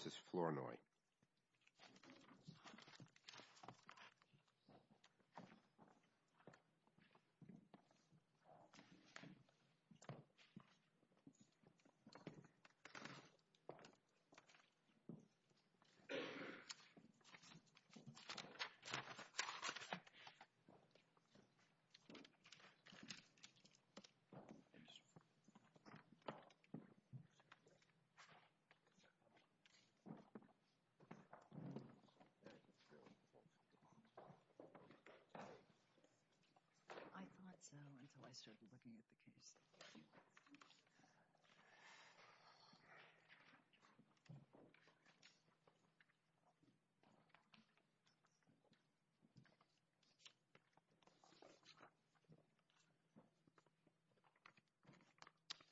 Mrs. Flournoy I thought so until I started looking at the case.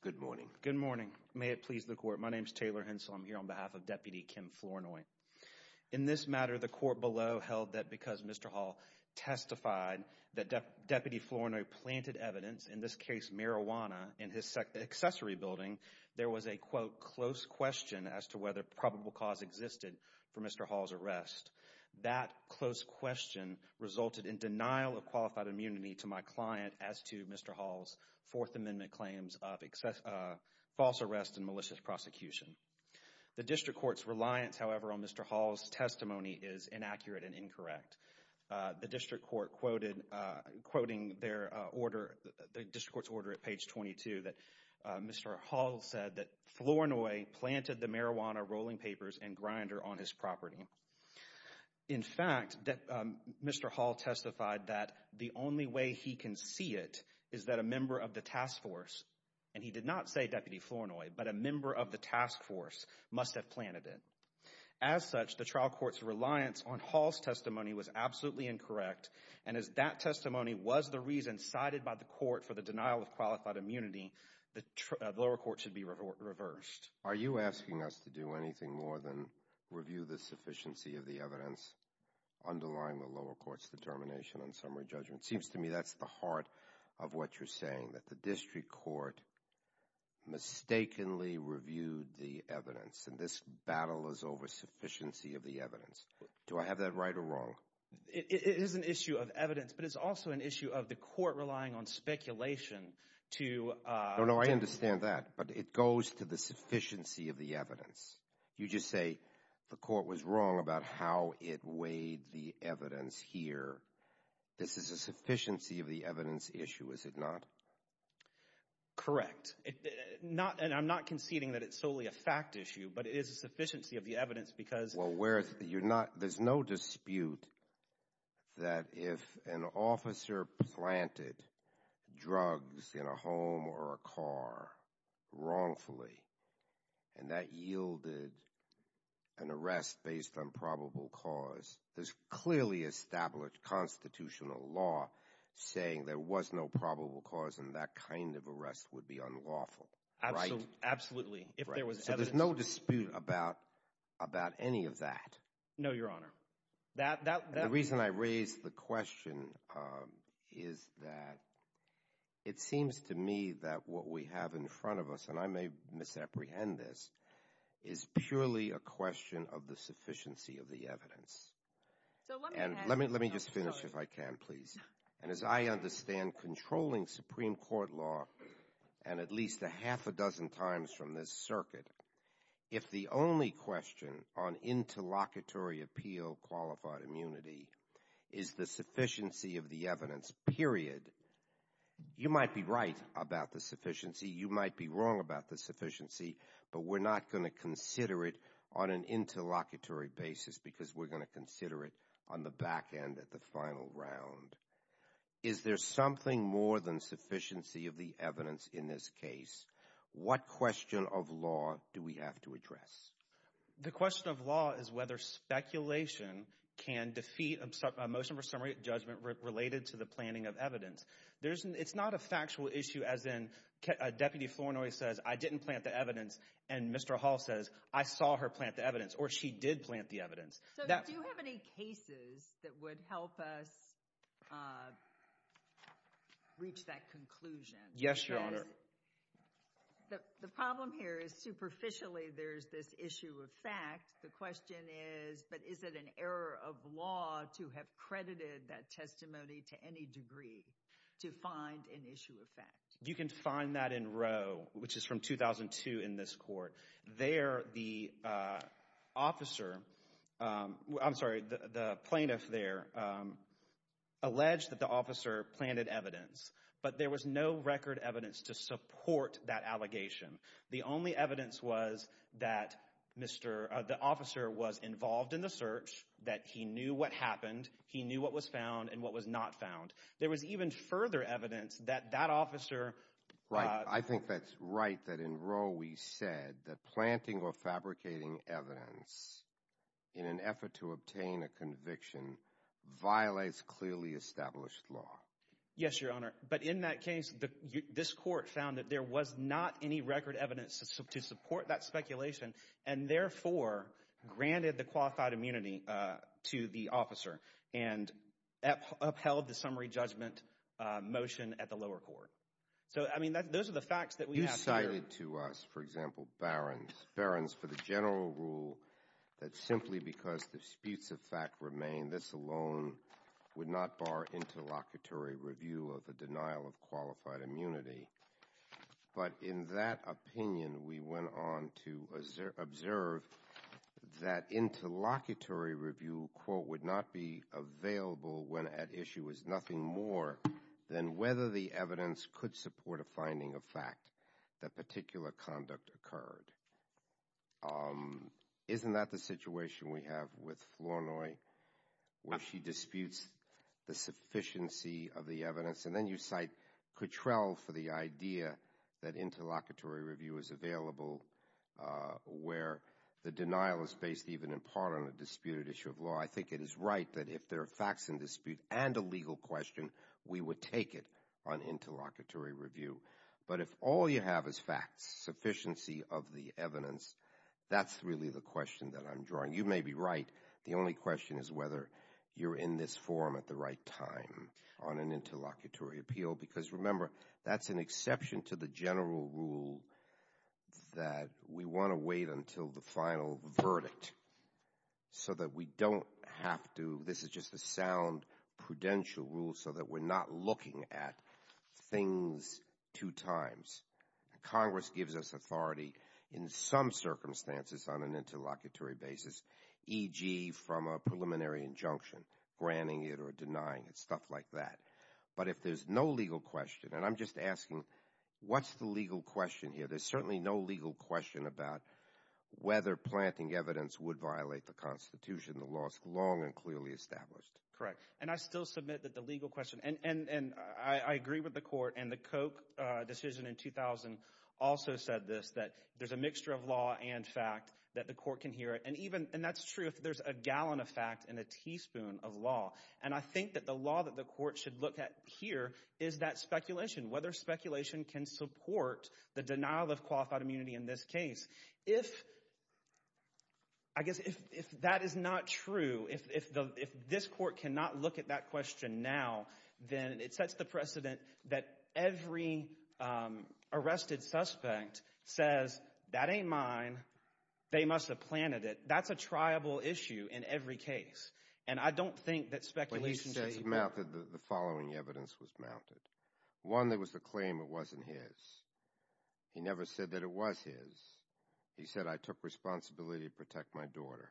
Good morning. Good morning. May it please the Court. My name is Taylor Hensel. I'm here on behalf of Deputy Kim Flournoy. In this matter, the Court below held that because Mr. Hall testified that Deputy Flournoy planted evidence, in this case marijuana, in his accessory building, there was a, quote, close question as to whether probable cause existed for Mr. Hall's arrest. That close question resulted in denial of qualified immunity to my client as to Mr. Hall's eminent claims of false arrest and malicious prosecution. The District Court's reliance, however, on Mr. Hall's testimony is inaccurate and incorrect. The District Court quoted, quoting their order, the District Court's order at page 22 that Mr. Hall said that Flournoy planted the marijuana rolling papers and grinder on his property. In fact, Mr. Hall testified that the only way he can see it is that a member of the task force, and he did not say Deputy Flournoy, but a member of the task force must have planted it. As such, the trial court's reliance on Hall's testimony was absolutely incorrect. And as that testimony was the reason cited by the court for the denial of qualified immunity, the lower court should be reversed. Are you asking us to do anything more than review the sufficiency of the evidence underlying the lower court's determination on summary judgment? It seems to me that's the heart of what you're saying, that the District Court mistakenly reviewed the evidence, and this battle is over sufficiency of the evidence. Do I have that right or wrong? It is an issue of evidence, but it's also an issue of the court relying on speculation to- No, no, I understand that, but it goes to the sufficiency of the evidence. You just say the court was wrong about how it weighed the evidence here. This is a sufficiency of the evidence issue, is it not? Correct. And I'm not conceding that it's solely a fact issue, but it is a sufficiency of the evidence because- Well, there's no dispute that if an officer planted drugs in a home or a car wrongfully, and that yielded an arrest based on probable cause, there's clearly established constitutional law saying there was no probable cause and that kind of arrest would be unlawful, right? Absolutely. If there was evidence- So there's no dispute about any of that? No, Your Honor. That- The reason I raise the question is that it seems to me that what we have in front of us, and I may misapprehend this, is purely a question of the sufficiency of the evidence. So let me ask- Let me just finish if I can, please. And as I understand controlling Supreme Court law, and at least a half a dozen times from this circuit, if the only question on interlocutory appeal qualified immunity is the sufficiency of the evidence, period, you might be right about the sufficiency, you might be wrong about the sufficiency, but we're not going to consider it on an interlocutory basis because we're going to consider it on the back end at the final round. Is there something more than sufficiency of the evidence in this case? The question of law is whether speculation can defeat a motion for summary judgment related to the planning of evidence. It's not a factual issue as in Deputy Flournoy says, I didn't plant the evidence, and Mr. Hall says, I saw her plant the evidence, or she did plant the evidence. So do you have any cases that would help us reach that conclusion? Yes, Your Honor. The problem here is superficially there's this issue of fact. The question is, but is it an error of law to have credited that testimony to any degree to find an issue of fact? You can find that in Roe, which is from 2002 in this court. There the officer, I'm sorry, the plaintiff there alleged that the officer planted evidence, but there was no record evidence to support that allegation. The only evidence was that the officer was involved in the search, that he knew what happened, he knew what was found, and what was not found. There was even further evidence that that officer... Right. I think that's right that in Roe we said that planting or fabricating evidence in an effort to obtain a conviction violates clearly established law. Yes, Your Honor. But in that case, this court found that there was not any record evidence to support that speculation and therefore granted the qualified immunity to the officer and upheld the summary judgment motion at the lower court. So I mean, those are the facts that we have here. You cited to us, for example, Barron's, Barron's for the general rule that simply because the disputes of fact remain, this alone would not bar interlocutory review of the denial of qualified immunity. But in that opinion, we went on to observe that interlocutory review, quote, would not be available when at issue is nothing more than whether the evidence could support a finding of fact that particular conduct occurred. Isn't that the situation we have with Flournoy, where she disputes the sufficiency of the evidence? And then you cite Coutrell for the idea that interlocutory review is available where the denial is based even in part on a disputed issue of law. I think it is right that if there are facts in dispute and a legal question, we would take it on interlocutory review. But if all you have is facts, sufficiency of the evidence, that's really the question that I'm drawing. You may be right. The only question is whether you're in this forum at the right time on an interlocutory appeal. Because remember, that's an exception to the general rule that we want to wait until the final verdict so that we don't have to, this is just a sound prudential rule so that we're not looking at things two times. Congress gives us authority in some circumstances on an interlocutory basis, e.g. from a preliminary injunction, granting it or denying it, stuff like that. But if there's no legal question, and I'm just asking, what's the legal question here? There's certainly no legal question about whether planting evidence would violate the Constitution. The law is long and clearly established. Correct. And I still submit that the legal question, and I agree with the court, and the Koch decision in 2000 also said this, that there's a mixture of law and fact that the court can hear. And even, and that's true if there's a gallon of fact and a teaspoon of law. And I think that the law that the court should look at here is that speculation, whether speculation can support the denial of qualified immunity in this case. If, I guess, if that is not true, if this court cannot look at that question now, then it sets the precedent that every arrested suspect says, that ain't mine, they must have planted it. That's a triable issue in every case. And I don't think that speculation should be- Well, he says mouthed that the following evidence was mounted. One that was the claim it wasn't his. He never said that it was his. He said, I took responsibility to protect my daughter.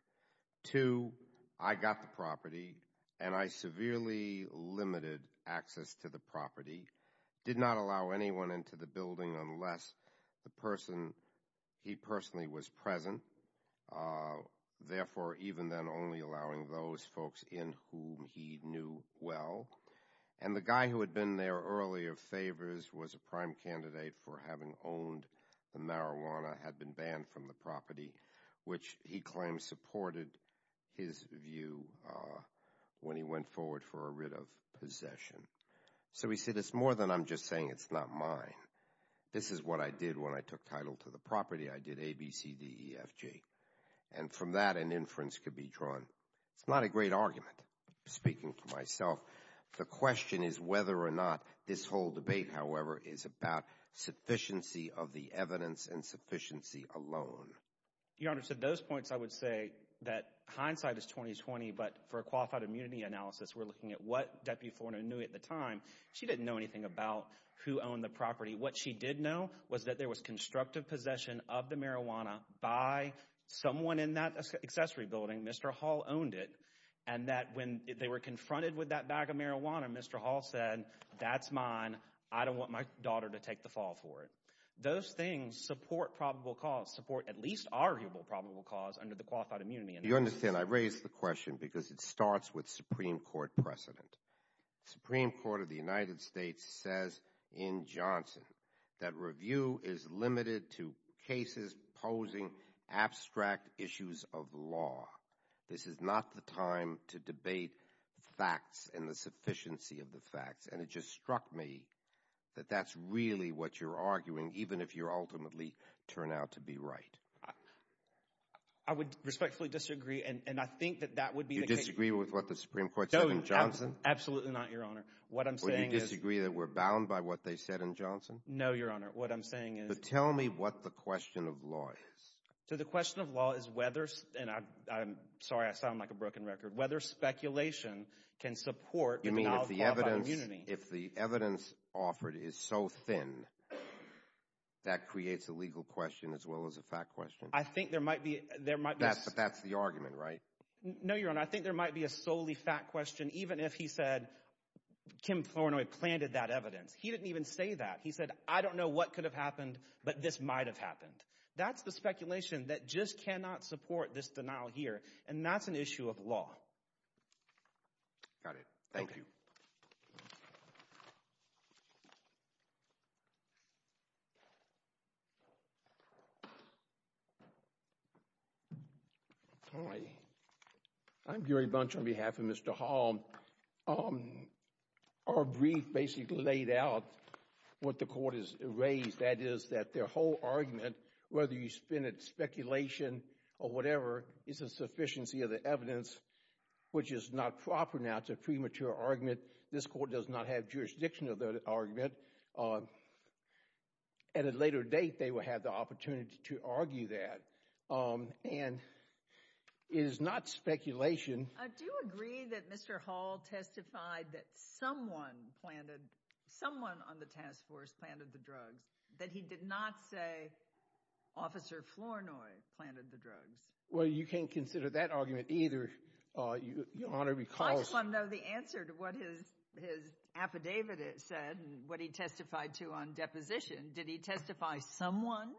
Two, I got the property and I severely limited access to the property. Did not allow anyone into the building unless the person, he personally was present. Therefore, even then only allowing those folks in whom he knew well. And the guy who had been there earlier, Favors, was a prime candidate for having owned the marijuana, had been banned from the property, which he claimed supported his view when he went forward for a writ of possession. So he said, it's more than I'm just saying it's not mine. This is what I did when I took title to the property. I did A, B, C, D, E, F, G. And from that an inference could be drawn. It's not a great argument. Speaking for myself, the question is whether or not this whole debate, however, is about sufficiency of the evidence and sufficiency alone. Your Honor, to those points, I would say that hindsight is 20-20. But for a qualified immunity analysis, we're looking at what Deputy Forna knew at the time. She didn't know anything about who owned the property. What she did know was that there was constructive possession of the marijuana by someone in that accessory building. Mr. Hall owned it. And that when they were confronted with that bag of marijuana, Mr. Hall said, that's mine. I don't want my daughter to take the fall for it. Those things support probable cause, support at least arguable probable cause under the qualified immunity analysis. You understand, I raise the question because it starts with Supreme Court precedent. Supreme Court of the United States says in Johnson that review is limited to cases posing abstract issues of law. This is not the time to debate facts and the sufficiency of the facts. And it just struck me that that's really what you're arguing, even if you ultimately turn out to be right. I would respectfully disagree. And I think that that would be the case. You disagree with what the Supreme Court said in Johnson? Absolutely not, Your Honor. What I'm saying is. Will you disagree that we're bound by what they said in Johnson? No, Your Honor. What I'm saying is. But tell me what the question of law is. So the question of law is whether, and I'm sorry I sound like a broken record, whether speculation can support the denial of probable immunity. If the evidence offered is so thin, that creates a legal question as well as a fact question. I think there might be. There might be. But that's the argument, right? No, Your Honor. I think there might be a solely fact question, even if he said Kim Flournoy planted that evidence. He didn't even say that. He said, I don't know what could have happened, but this might have happened. That's the speculation that just cannot support this denial here. And that's an issue of law. Got it. Thank you. Hi. I'm Gary Bunch on behalf of Mr. Hall. Our brief basically laid out what the court has raised. That is, that their whole argument, whether you spin it speculation or whatever, is a sufficiency of the evidence, which is not proper now. It's a premature argument. This court does not have jurisdiction of that argument. At a later date, they will have the opportunity to argue that. And it is not speculation. Do you agree that Mr. Hall testified that someone planted, someone on the task force planted the drugs, that he did not say Officer Flournoy planted the drugs? Well, you can't consider that argument either, Your Honor, because— I just want to know the answer to what his affidavit said and what he testified to on deposition. Did he testify someone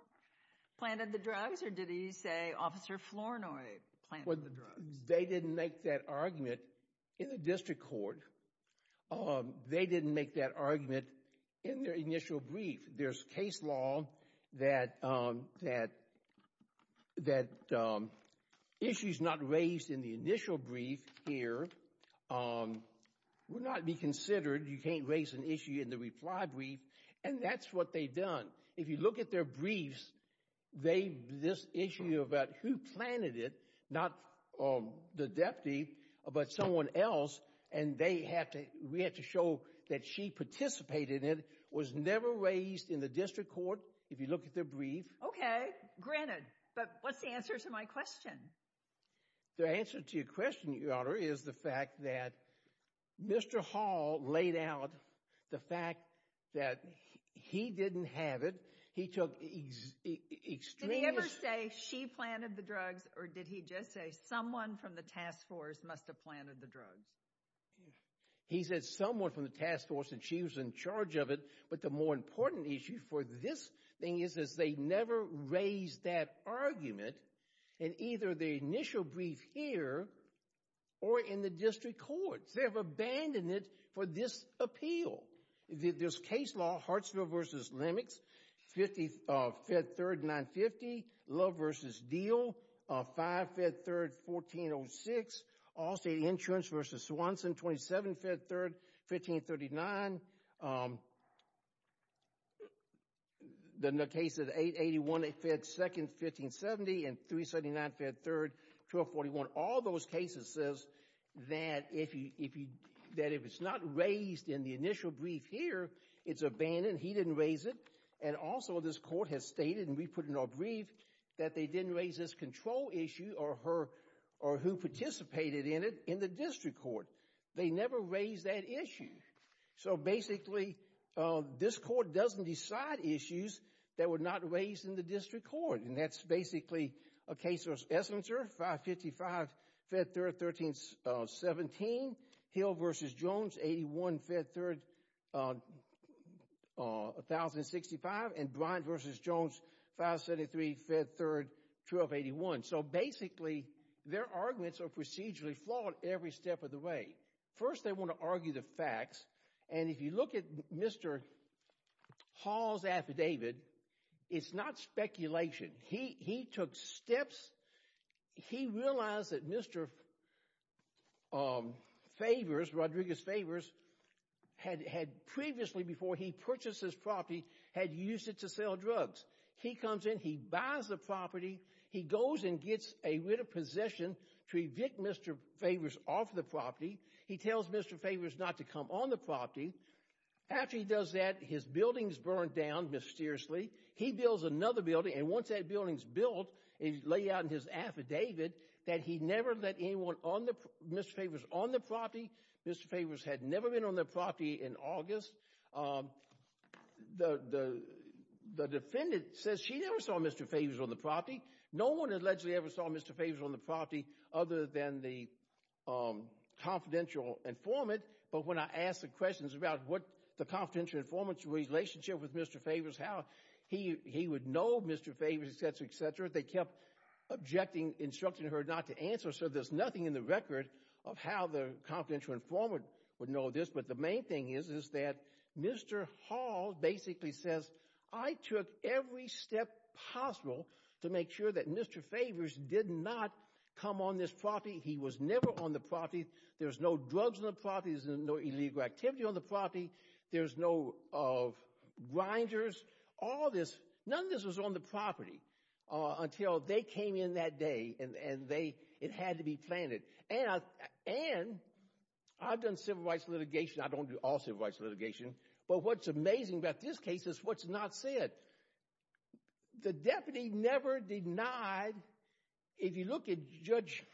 planted the drugs or did he say Officer Flournoy planted the drugs? They didn't make that argument in the district court. They didn't make that argument in their initial brief. There's case law that issues not raised in the initial brief here would not be considered. You can't raise an issue in the reply brief. And that's what they've done. If you look at their briefs, this issue about who planted it, not the deputy, but someone else, and they have to—we have to show that she participated in it, was never raised in the district court, if you look at their brief. Okay. Granted. But what's the answer to my question? The answer to your question, Your Honor, is the fact that Mr. Hall laid out the fact that he didn't have it. He took extreme— Did he ever say she planted the drugs or did he just say someone from the task force must have planted the drugs? He said someone from the task force and she was in charge of it. But the more important issue for this thing is that they never raised that argument in either the initial brief here or in the district courts. They have abandoned it for this appeal. There's case law, Hartsville v. Lemics, Fifth Third 950, Love v. Diehl, 5 Fifth Third 1406, Allstate Insurance v. Swanson, 27 Fifth Third 1539, the case of 881, 2nd, 1570, and 379 Fifth Third 1241. All those cases says that if it's not raised in the initial brief here, it's abandoned. He didn't raise it. And also this court has stated, and we put it in our brief, that they didn't raise this control issue or who participated in it in the district court. They never raised that issue. So basically, this court doesn't decide issues that were not raised in the district court. And that's basically a case of Esslinger, 555 Fifth Third 1317, Hill v. Jones, 81 Fifth Third 1065, and Bryant v. Jones, 573 Fifth Third 1281. So basically, their arguments are procedurally flawed every step of the way. First they want to argue the facts. And if you look at Mr. Hall's affidavit, it's not speculation. He took steps. He realized that Mr. Favors, Rodriguez Favors, had previously, before he purchased this property, had used it to sell drugs. He comes in. He buys the property. He goes and gets a writ of possession to evict Mr. Favors off the property. He tells Mr. Favors not to come on the property. After he does that, his building's burned down mysteriously. He builds another building, and once that building's built, he laid out in his affidavit that he never let anyone, Mr. Favors, on the property. Mr. Favors had never been on the property in August. The defendant says she never saw Mr. Favors on the property. No one allegedly ever saw Mr. Favors on the property other than the confidential informant. But when I ask the questions about what the confidential informant's relationship with Mr. Favors, how he would know Mr. Favors, etc., etc., they kept objecting, instructing her not to answer. So there's nothing in the record of how the confidential informant would know this. But the main thing is, is that Mr. Hall basically says, I took every step possible to make sure that Mr. Favors did not come on this property. He was never on the property. There's no drugs on the property. There's no illegal activity on the property. There's no rinders. All this, none of this was on the property until they came in that day and it had to be planted. And I've done civil rights litigation, I don't do all civil rights litigation, but what's amazing about this case is what's not said. The deputy never denied, if you look at Judge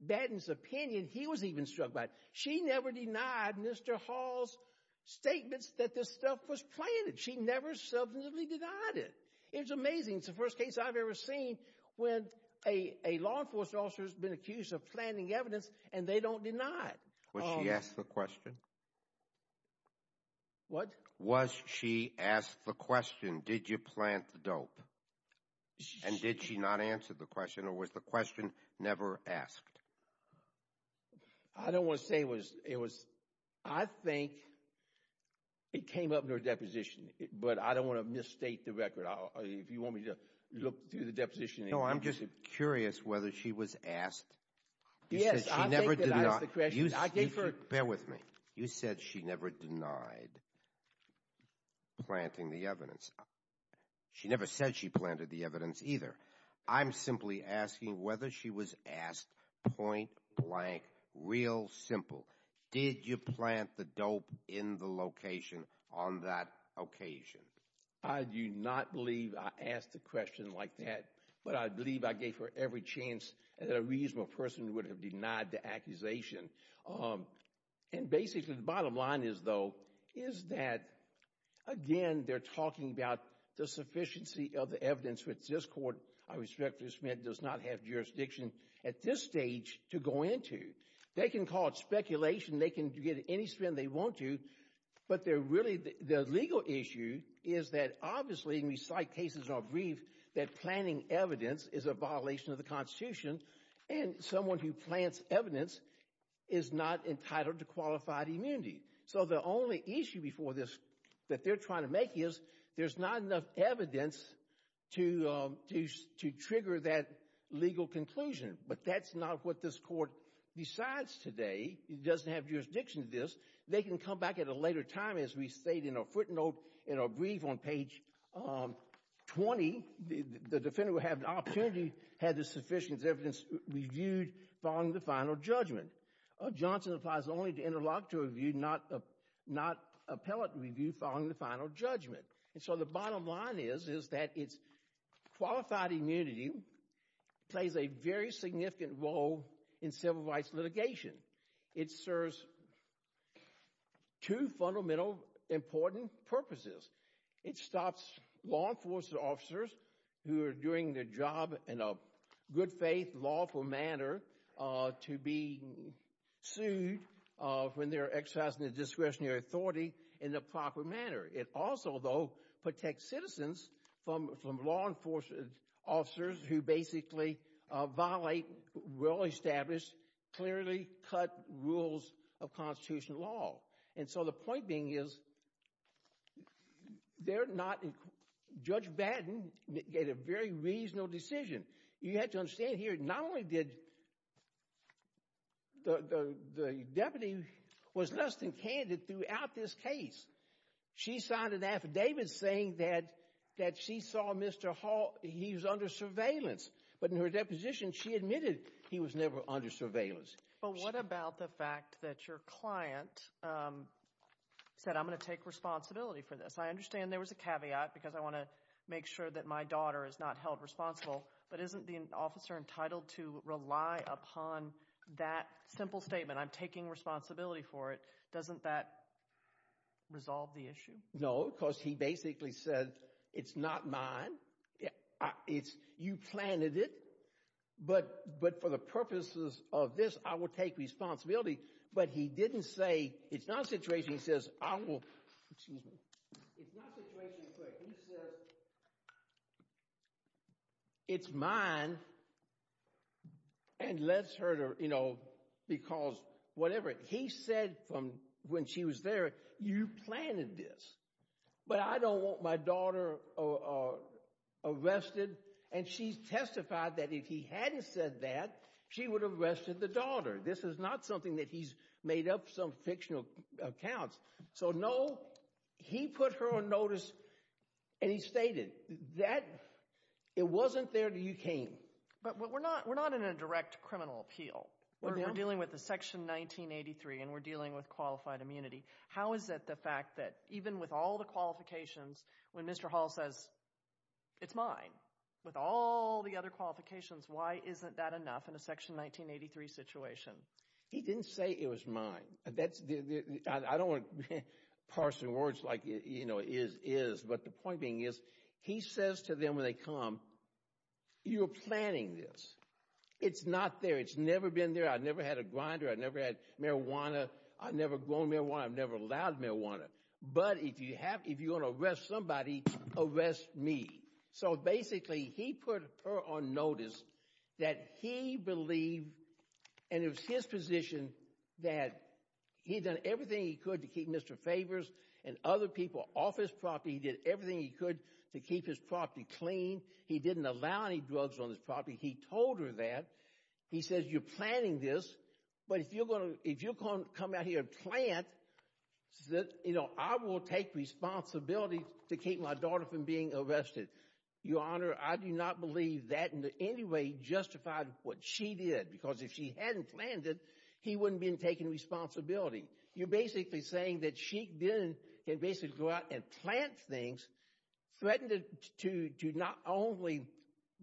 Batten's opinion, he was even struck by it. She never denied Mr. Hall's statements that this stuff was planted. She never substantively denied it. It was amazing. It's the first case I've ever seen when a law enforcement officer's been accused of planting evidence and they don't deny it. Was she asked the question? What? Was she asked the question, did you plant the dope? And did she not answer the question or was the question never asked? I don't want to say it was, I think it came up in her deposition, but I don't want to misstate the record. If you want me to look through the deposition. No, I'm just curious whether she was asked. Yes, I think that I asked the question. Bear with me. You said she never denied planting the evidence. She never said she planted the evidence either. I'm simply asking whether she was asked point blank, real simple, did you plant the dope in the location on that occasion? I do not believe I asked the question like that, but I believe I gave her every chance that a reasonable person would have denied the accusation. And basically the bottom line is though, is that again, they're talking about the sufficiency of the evidence which this court, I respectfully submit, does not have jurisdiction at this stage to go into. They can call it speculation. They can get any spin they want to, but they're really, the legal issue is that obviously and we cite cases in our brief that planting evidence is a violation of the constitution and someone who plants evidence is not entitled to qualified immunity. So the only issue before this that they're trying to make is there's not enough evidence to trigger that legal conclusion, but that's not what this court decides today. It doesn't have jurisdiction to this. They can come back at a later time as we state in our footnote, in our brief on page 20, the defendant would have the opportunity, had the sufficient evidence reviewed following the final judgment. Johnson applies only to interlocutor review, not appellate review following the final judgment. And so the bottom line is, is that it's qualified immunity plays a very significant role in civil rights litigation. It serves two fundamental important purposes. It stops law enforcement officers who are doing their job in a good faith, lawful manner to be sued when they're exercising their discretionary authority in a proper manner. It also, though, protects citizens from law enforcement officers who basically violate well-established, clearly cut rules of constitutional law. And so the point being is, they're not, Judge Batten made a very reasonable decision. You have to understand here, not only did the deputy was less than candid throughout this case. She signed an affidavit saying that she saw Mr. Hall, he was under surveillance. But in her deposition, she admitted he was never under surveillance. But what about the fact that your client said, I'm going to take responsibility for this? I understand there was a caveat because I want to make sure that my daughter is not held responsible. But isn't the officer entitled to rely upon that simple statement, I'm taking responsibility for it? Doesn't that resolve the issue? No, because he basically said, it's not mine. You planted it. But for the purposes of this, I will take responsibility. But he didn't say, it's not a situation, he says, I will, excuse me, it's not a situation He says, it's mine and let's hurt her, you know, because whatever he said from when she was there, you planted this. But I don't want my daughter arrested. And she testified that if he hadn't said that, she would have arrested the daughter. This is not something that he's made up some fictional accounts. So no, he put her on notice and he stated that it wasn't there until you came. But we're not in a direct criminal appeal. We're dealing with the Section 1983 and we're dealing with qualified immunity. How is it the fact that even with all the qualifications, when Mr. Hall says, it's mine, with all the other qualifications, why isn't that enough in a Section 1983 situation? He didn't say it was mine. I don't want to parse the words like it is, but the point being is, he says to them when they come, you're planting this. It's not there. It's never been there. I've never had a grinder. I've never had marijuana. I've never grown marijuana. I've never allowed marijuana. But if you're going to arrest somebody, arrest me. So basically, he put her on notice that he believed, and it was his position, that he'd done everything he could to keep Mr. Favors and other people off his property. He did everything he could to keep his property clean. He didn't allow any drugs on his property. He told her that. He says, you're planting this, but if you come out here and plant, I will take responsibility to keep my daughter from being arrested. Your Honor, I do not believe that in any way justified what she did, because if she hadn't planned it, he wouldn't have been taking responsibility. You're basically saying that she didn't basically go out and plant things, threatened to not only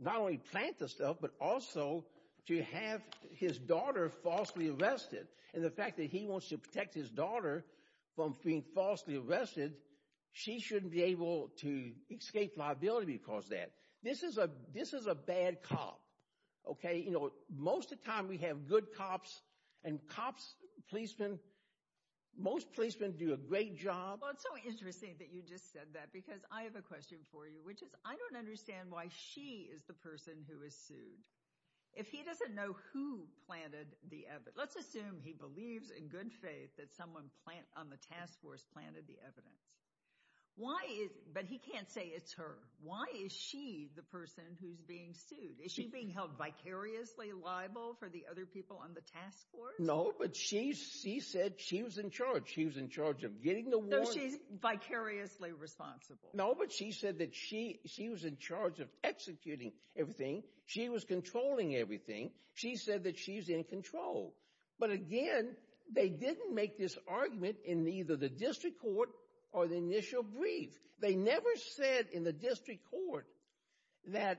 plant the stuff, but also to have his daughter falsely arrested, and the fact that he wants to protect his daughter from being falsely arrested, she shouldn't be able to escape liability because of that. This is a bad cop, okay? Most of the time, we have good cops, and cops, policemen, most policemen do a great job. Well, it's so interesting that you just said that, because I have a question for you, which is I don't understand why she is the person who was sued. If he doesn't know who planted the evidence, let's assume he believes in good faith that someone on the task force planted the evidence, but he can't say it's her. Why is she the person who's being sued? Is she being held vicariously liable for the other people on the task force? No, but she said she was in charge. She was in charge of getting the warrant. So she's vicariously responsible. No, but she said that she was in charge of executing everything. She was controlling everything. She said that she's in control, but again, they didn't make this argument in either the district court or the initial brief. They never said in the district court that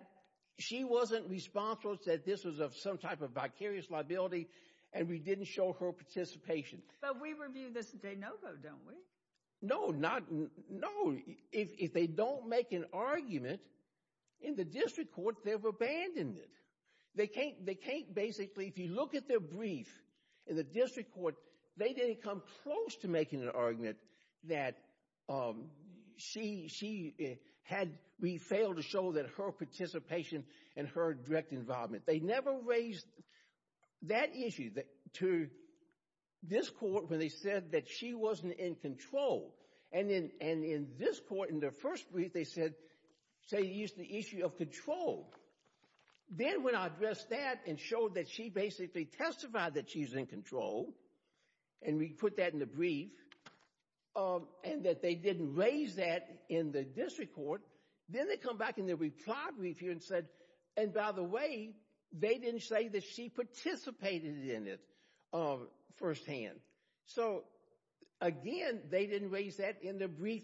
she wasn't responsible, said this was of some type of vicarious liability, and we didn't show her participation. But we review this de novo, don't we? No. If they don't make an argument in the district court, they've abandoned it. They can't basically, if you look at their brief in the district court, they didn't come close to making an argument that we failed to show her participation and her direct involvement. They never raised that issue to this court when they said that she wasn't in control. And in this court, in their first brief, they said they used the issue of control. Then when I addressed that and showed that she basically testified that she's in control, and we put that in the brief, and that they didn't raise that in the district court, then they come back in the reply brief here and said, and by the way, they didn't say that she participated in it firsthand. So again, they didn't raise that in the brief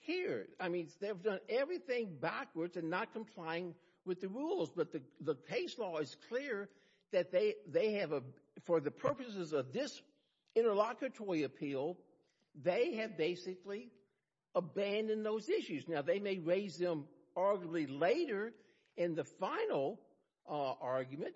here. I mean, they've done everything backwards and not complying with the rules. But the case law is clear that they have, for the purposes of this interlocutory appeal, they have basically abandoned those issues. Now, they may raise them arguably later in the final argument,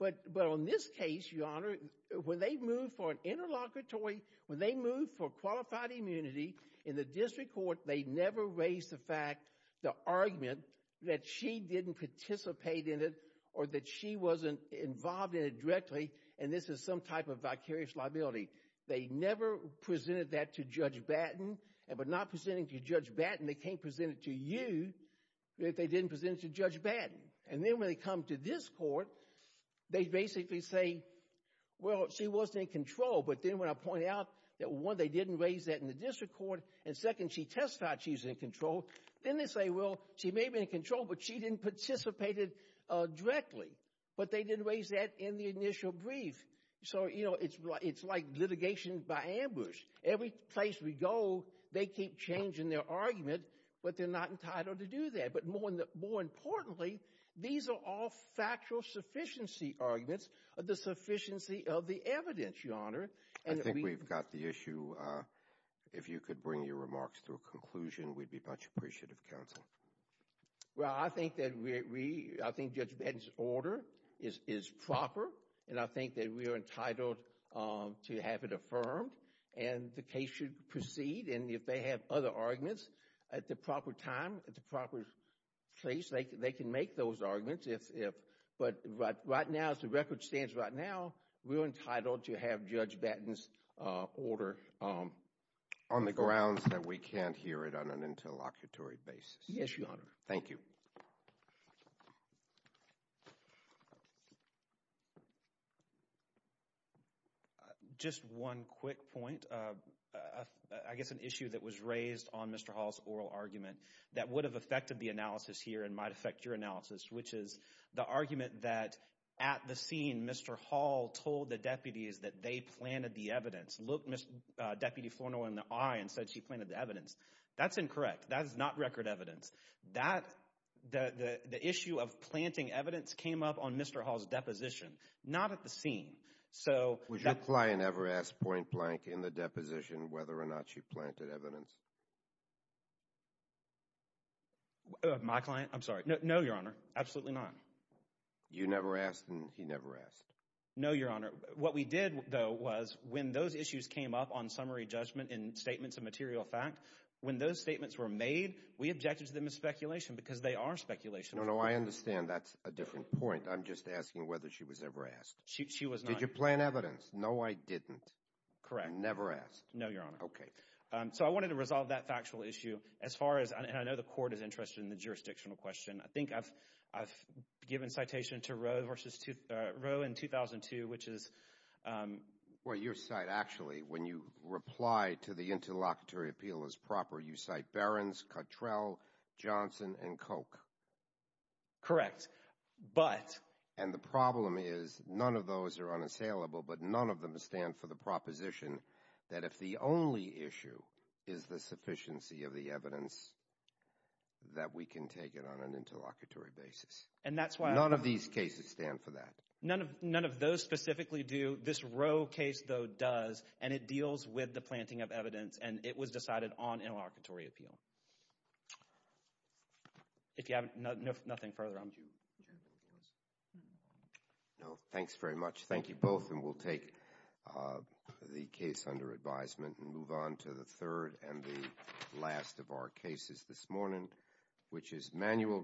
but on this case, Your Honor, when they moved for an interlocutory, when they moved for qualified immunity in the district court, they never raised the fact, the argument, that she didn't participate in it or that she wasn't involved in it directly, and this is some type of vicarious liability. They never presented that to Judge Batten, but not presenting to Judge Batten, they can't present it to you if they didn't present it to Judge Batten. And then when they come to this court, they basically say, well, she wasn't in control, but then when I point out that one, they didn't raise that in the district court, and second, she testified she's in control, then they say, well, she may be in control, but she didn't participate directly, but they didn't raise that in the initial brief. So it's like litigation by ambush. Every place we go, they keep changing their argument, but they're not entitled to do that, but more importantly, these are all factual sufficiency arguments, the sufficiency of the evidence, Your Honor. I think we've got the issue. If you could bring your remarks to a conclusion, we'd be much appreciative, Counsel. Well, I think that we, I think Judge Batten's order is proper, and I think that we are entitled to have it affirmed, and the case should proceed, and if they have other arguments at the proper time, at the proper place, they can make those arguments if, but right now, as the record stands right now, we're entitled to have Judge Batten's order on the grounds that we can't hear it on an interlocutory basis. Yes, Your Honor. Thank you. Just one quick point, I guess an issue that was raised on Mr. Hall's oral argument that would have affected the analysis here and might affect your analysis, which is the argument that at the scene, Mr. Hall told the deputies that they planted the evidence, looked Ms. Deputy Florno in the eye and said she planted the evidence. That's incorrect. That is not record evidence. The issue of planting evidence came up on Mr. Hall's deposition, not at the scene. Was your client ever asked point-blank in the deposition whether or not she planted evidence? My client? I'm sorry. No, Your Honor. Absolutely not. You never asked, and he never asked. No, Your Honor. What we did, though, was when those issues came up on summary judgment and statements of material fact, when those statements were made, we objected to them as speculation because they are speculation. No, no, I understand. She was not asked. She was not asked. She was not asked. She was not asked. She was not asked. She was not asked. She was not asked. No, Your Honor. Did you plant evidence? No, I didn't. Correct. You never asked. No, Your Honor. Okay. So I wanted to resolve that factual issue. As far as, and I know the court is interested in the jurisdictional question, I think I've given citation to Roe versus, Roe in 2002, which is... Well, your site, actually, when you reply to the interlocutory appeal as proper, you cite Barron's, Cottrell, Johnson, and Koch. Correct, but... And the problem is, none of those are unassailable, but none of them stand for the proposition that if the only issue is the sufficiency of the evidence, that we can take it on an interlocutory basis. And that's why... None of these cases stand for that. None of those specifically do. This Roe case, though, does, and it deals with the planting of evidence, and it was decided on interlocutory appeal. If you have nothing further... Would you... Would you have anything else? No. No. Thanks very much. Thank you both, and we'll take the case under advisement and move on to the third and the last of our cases this morning, which is manual...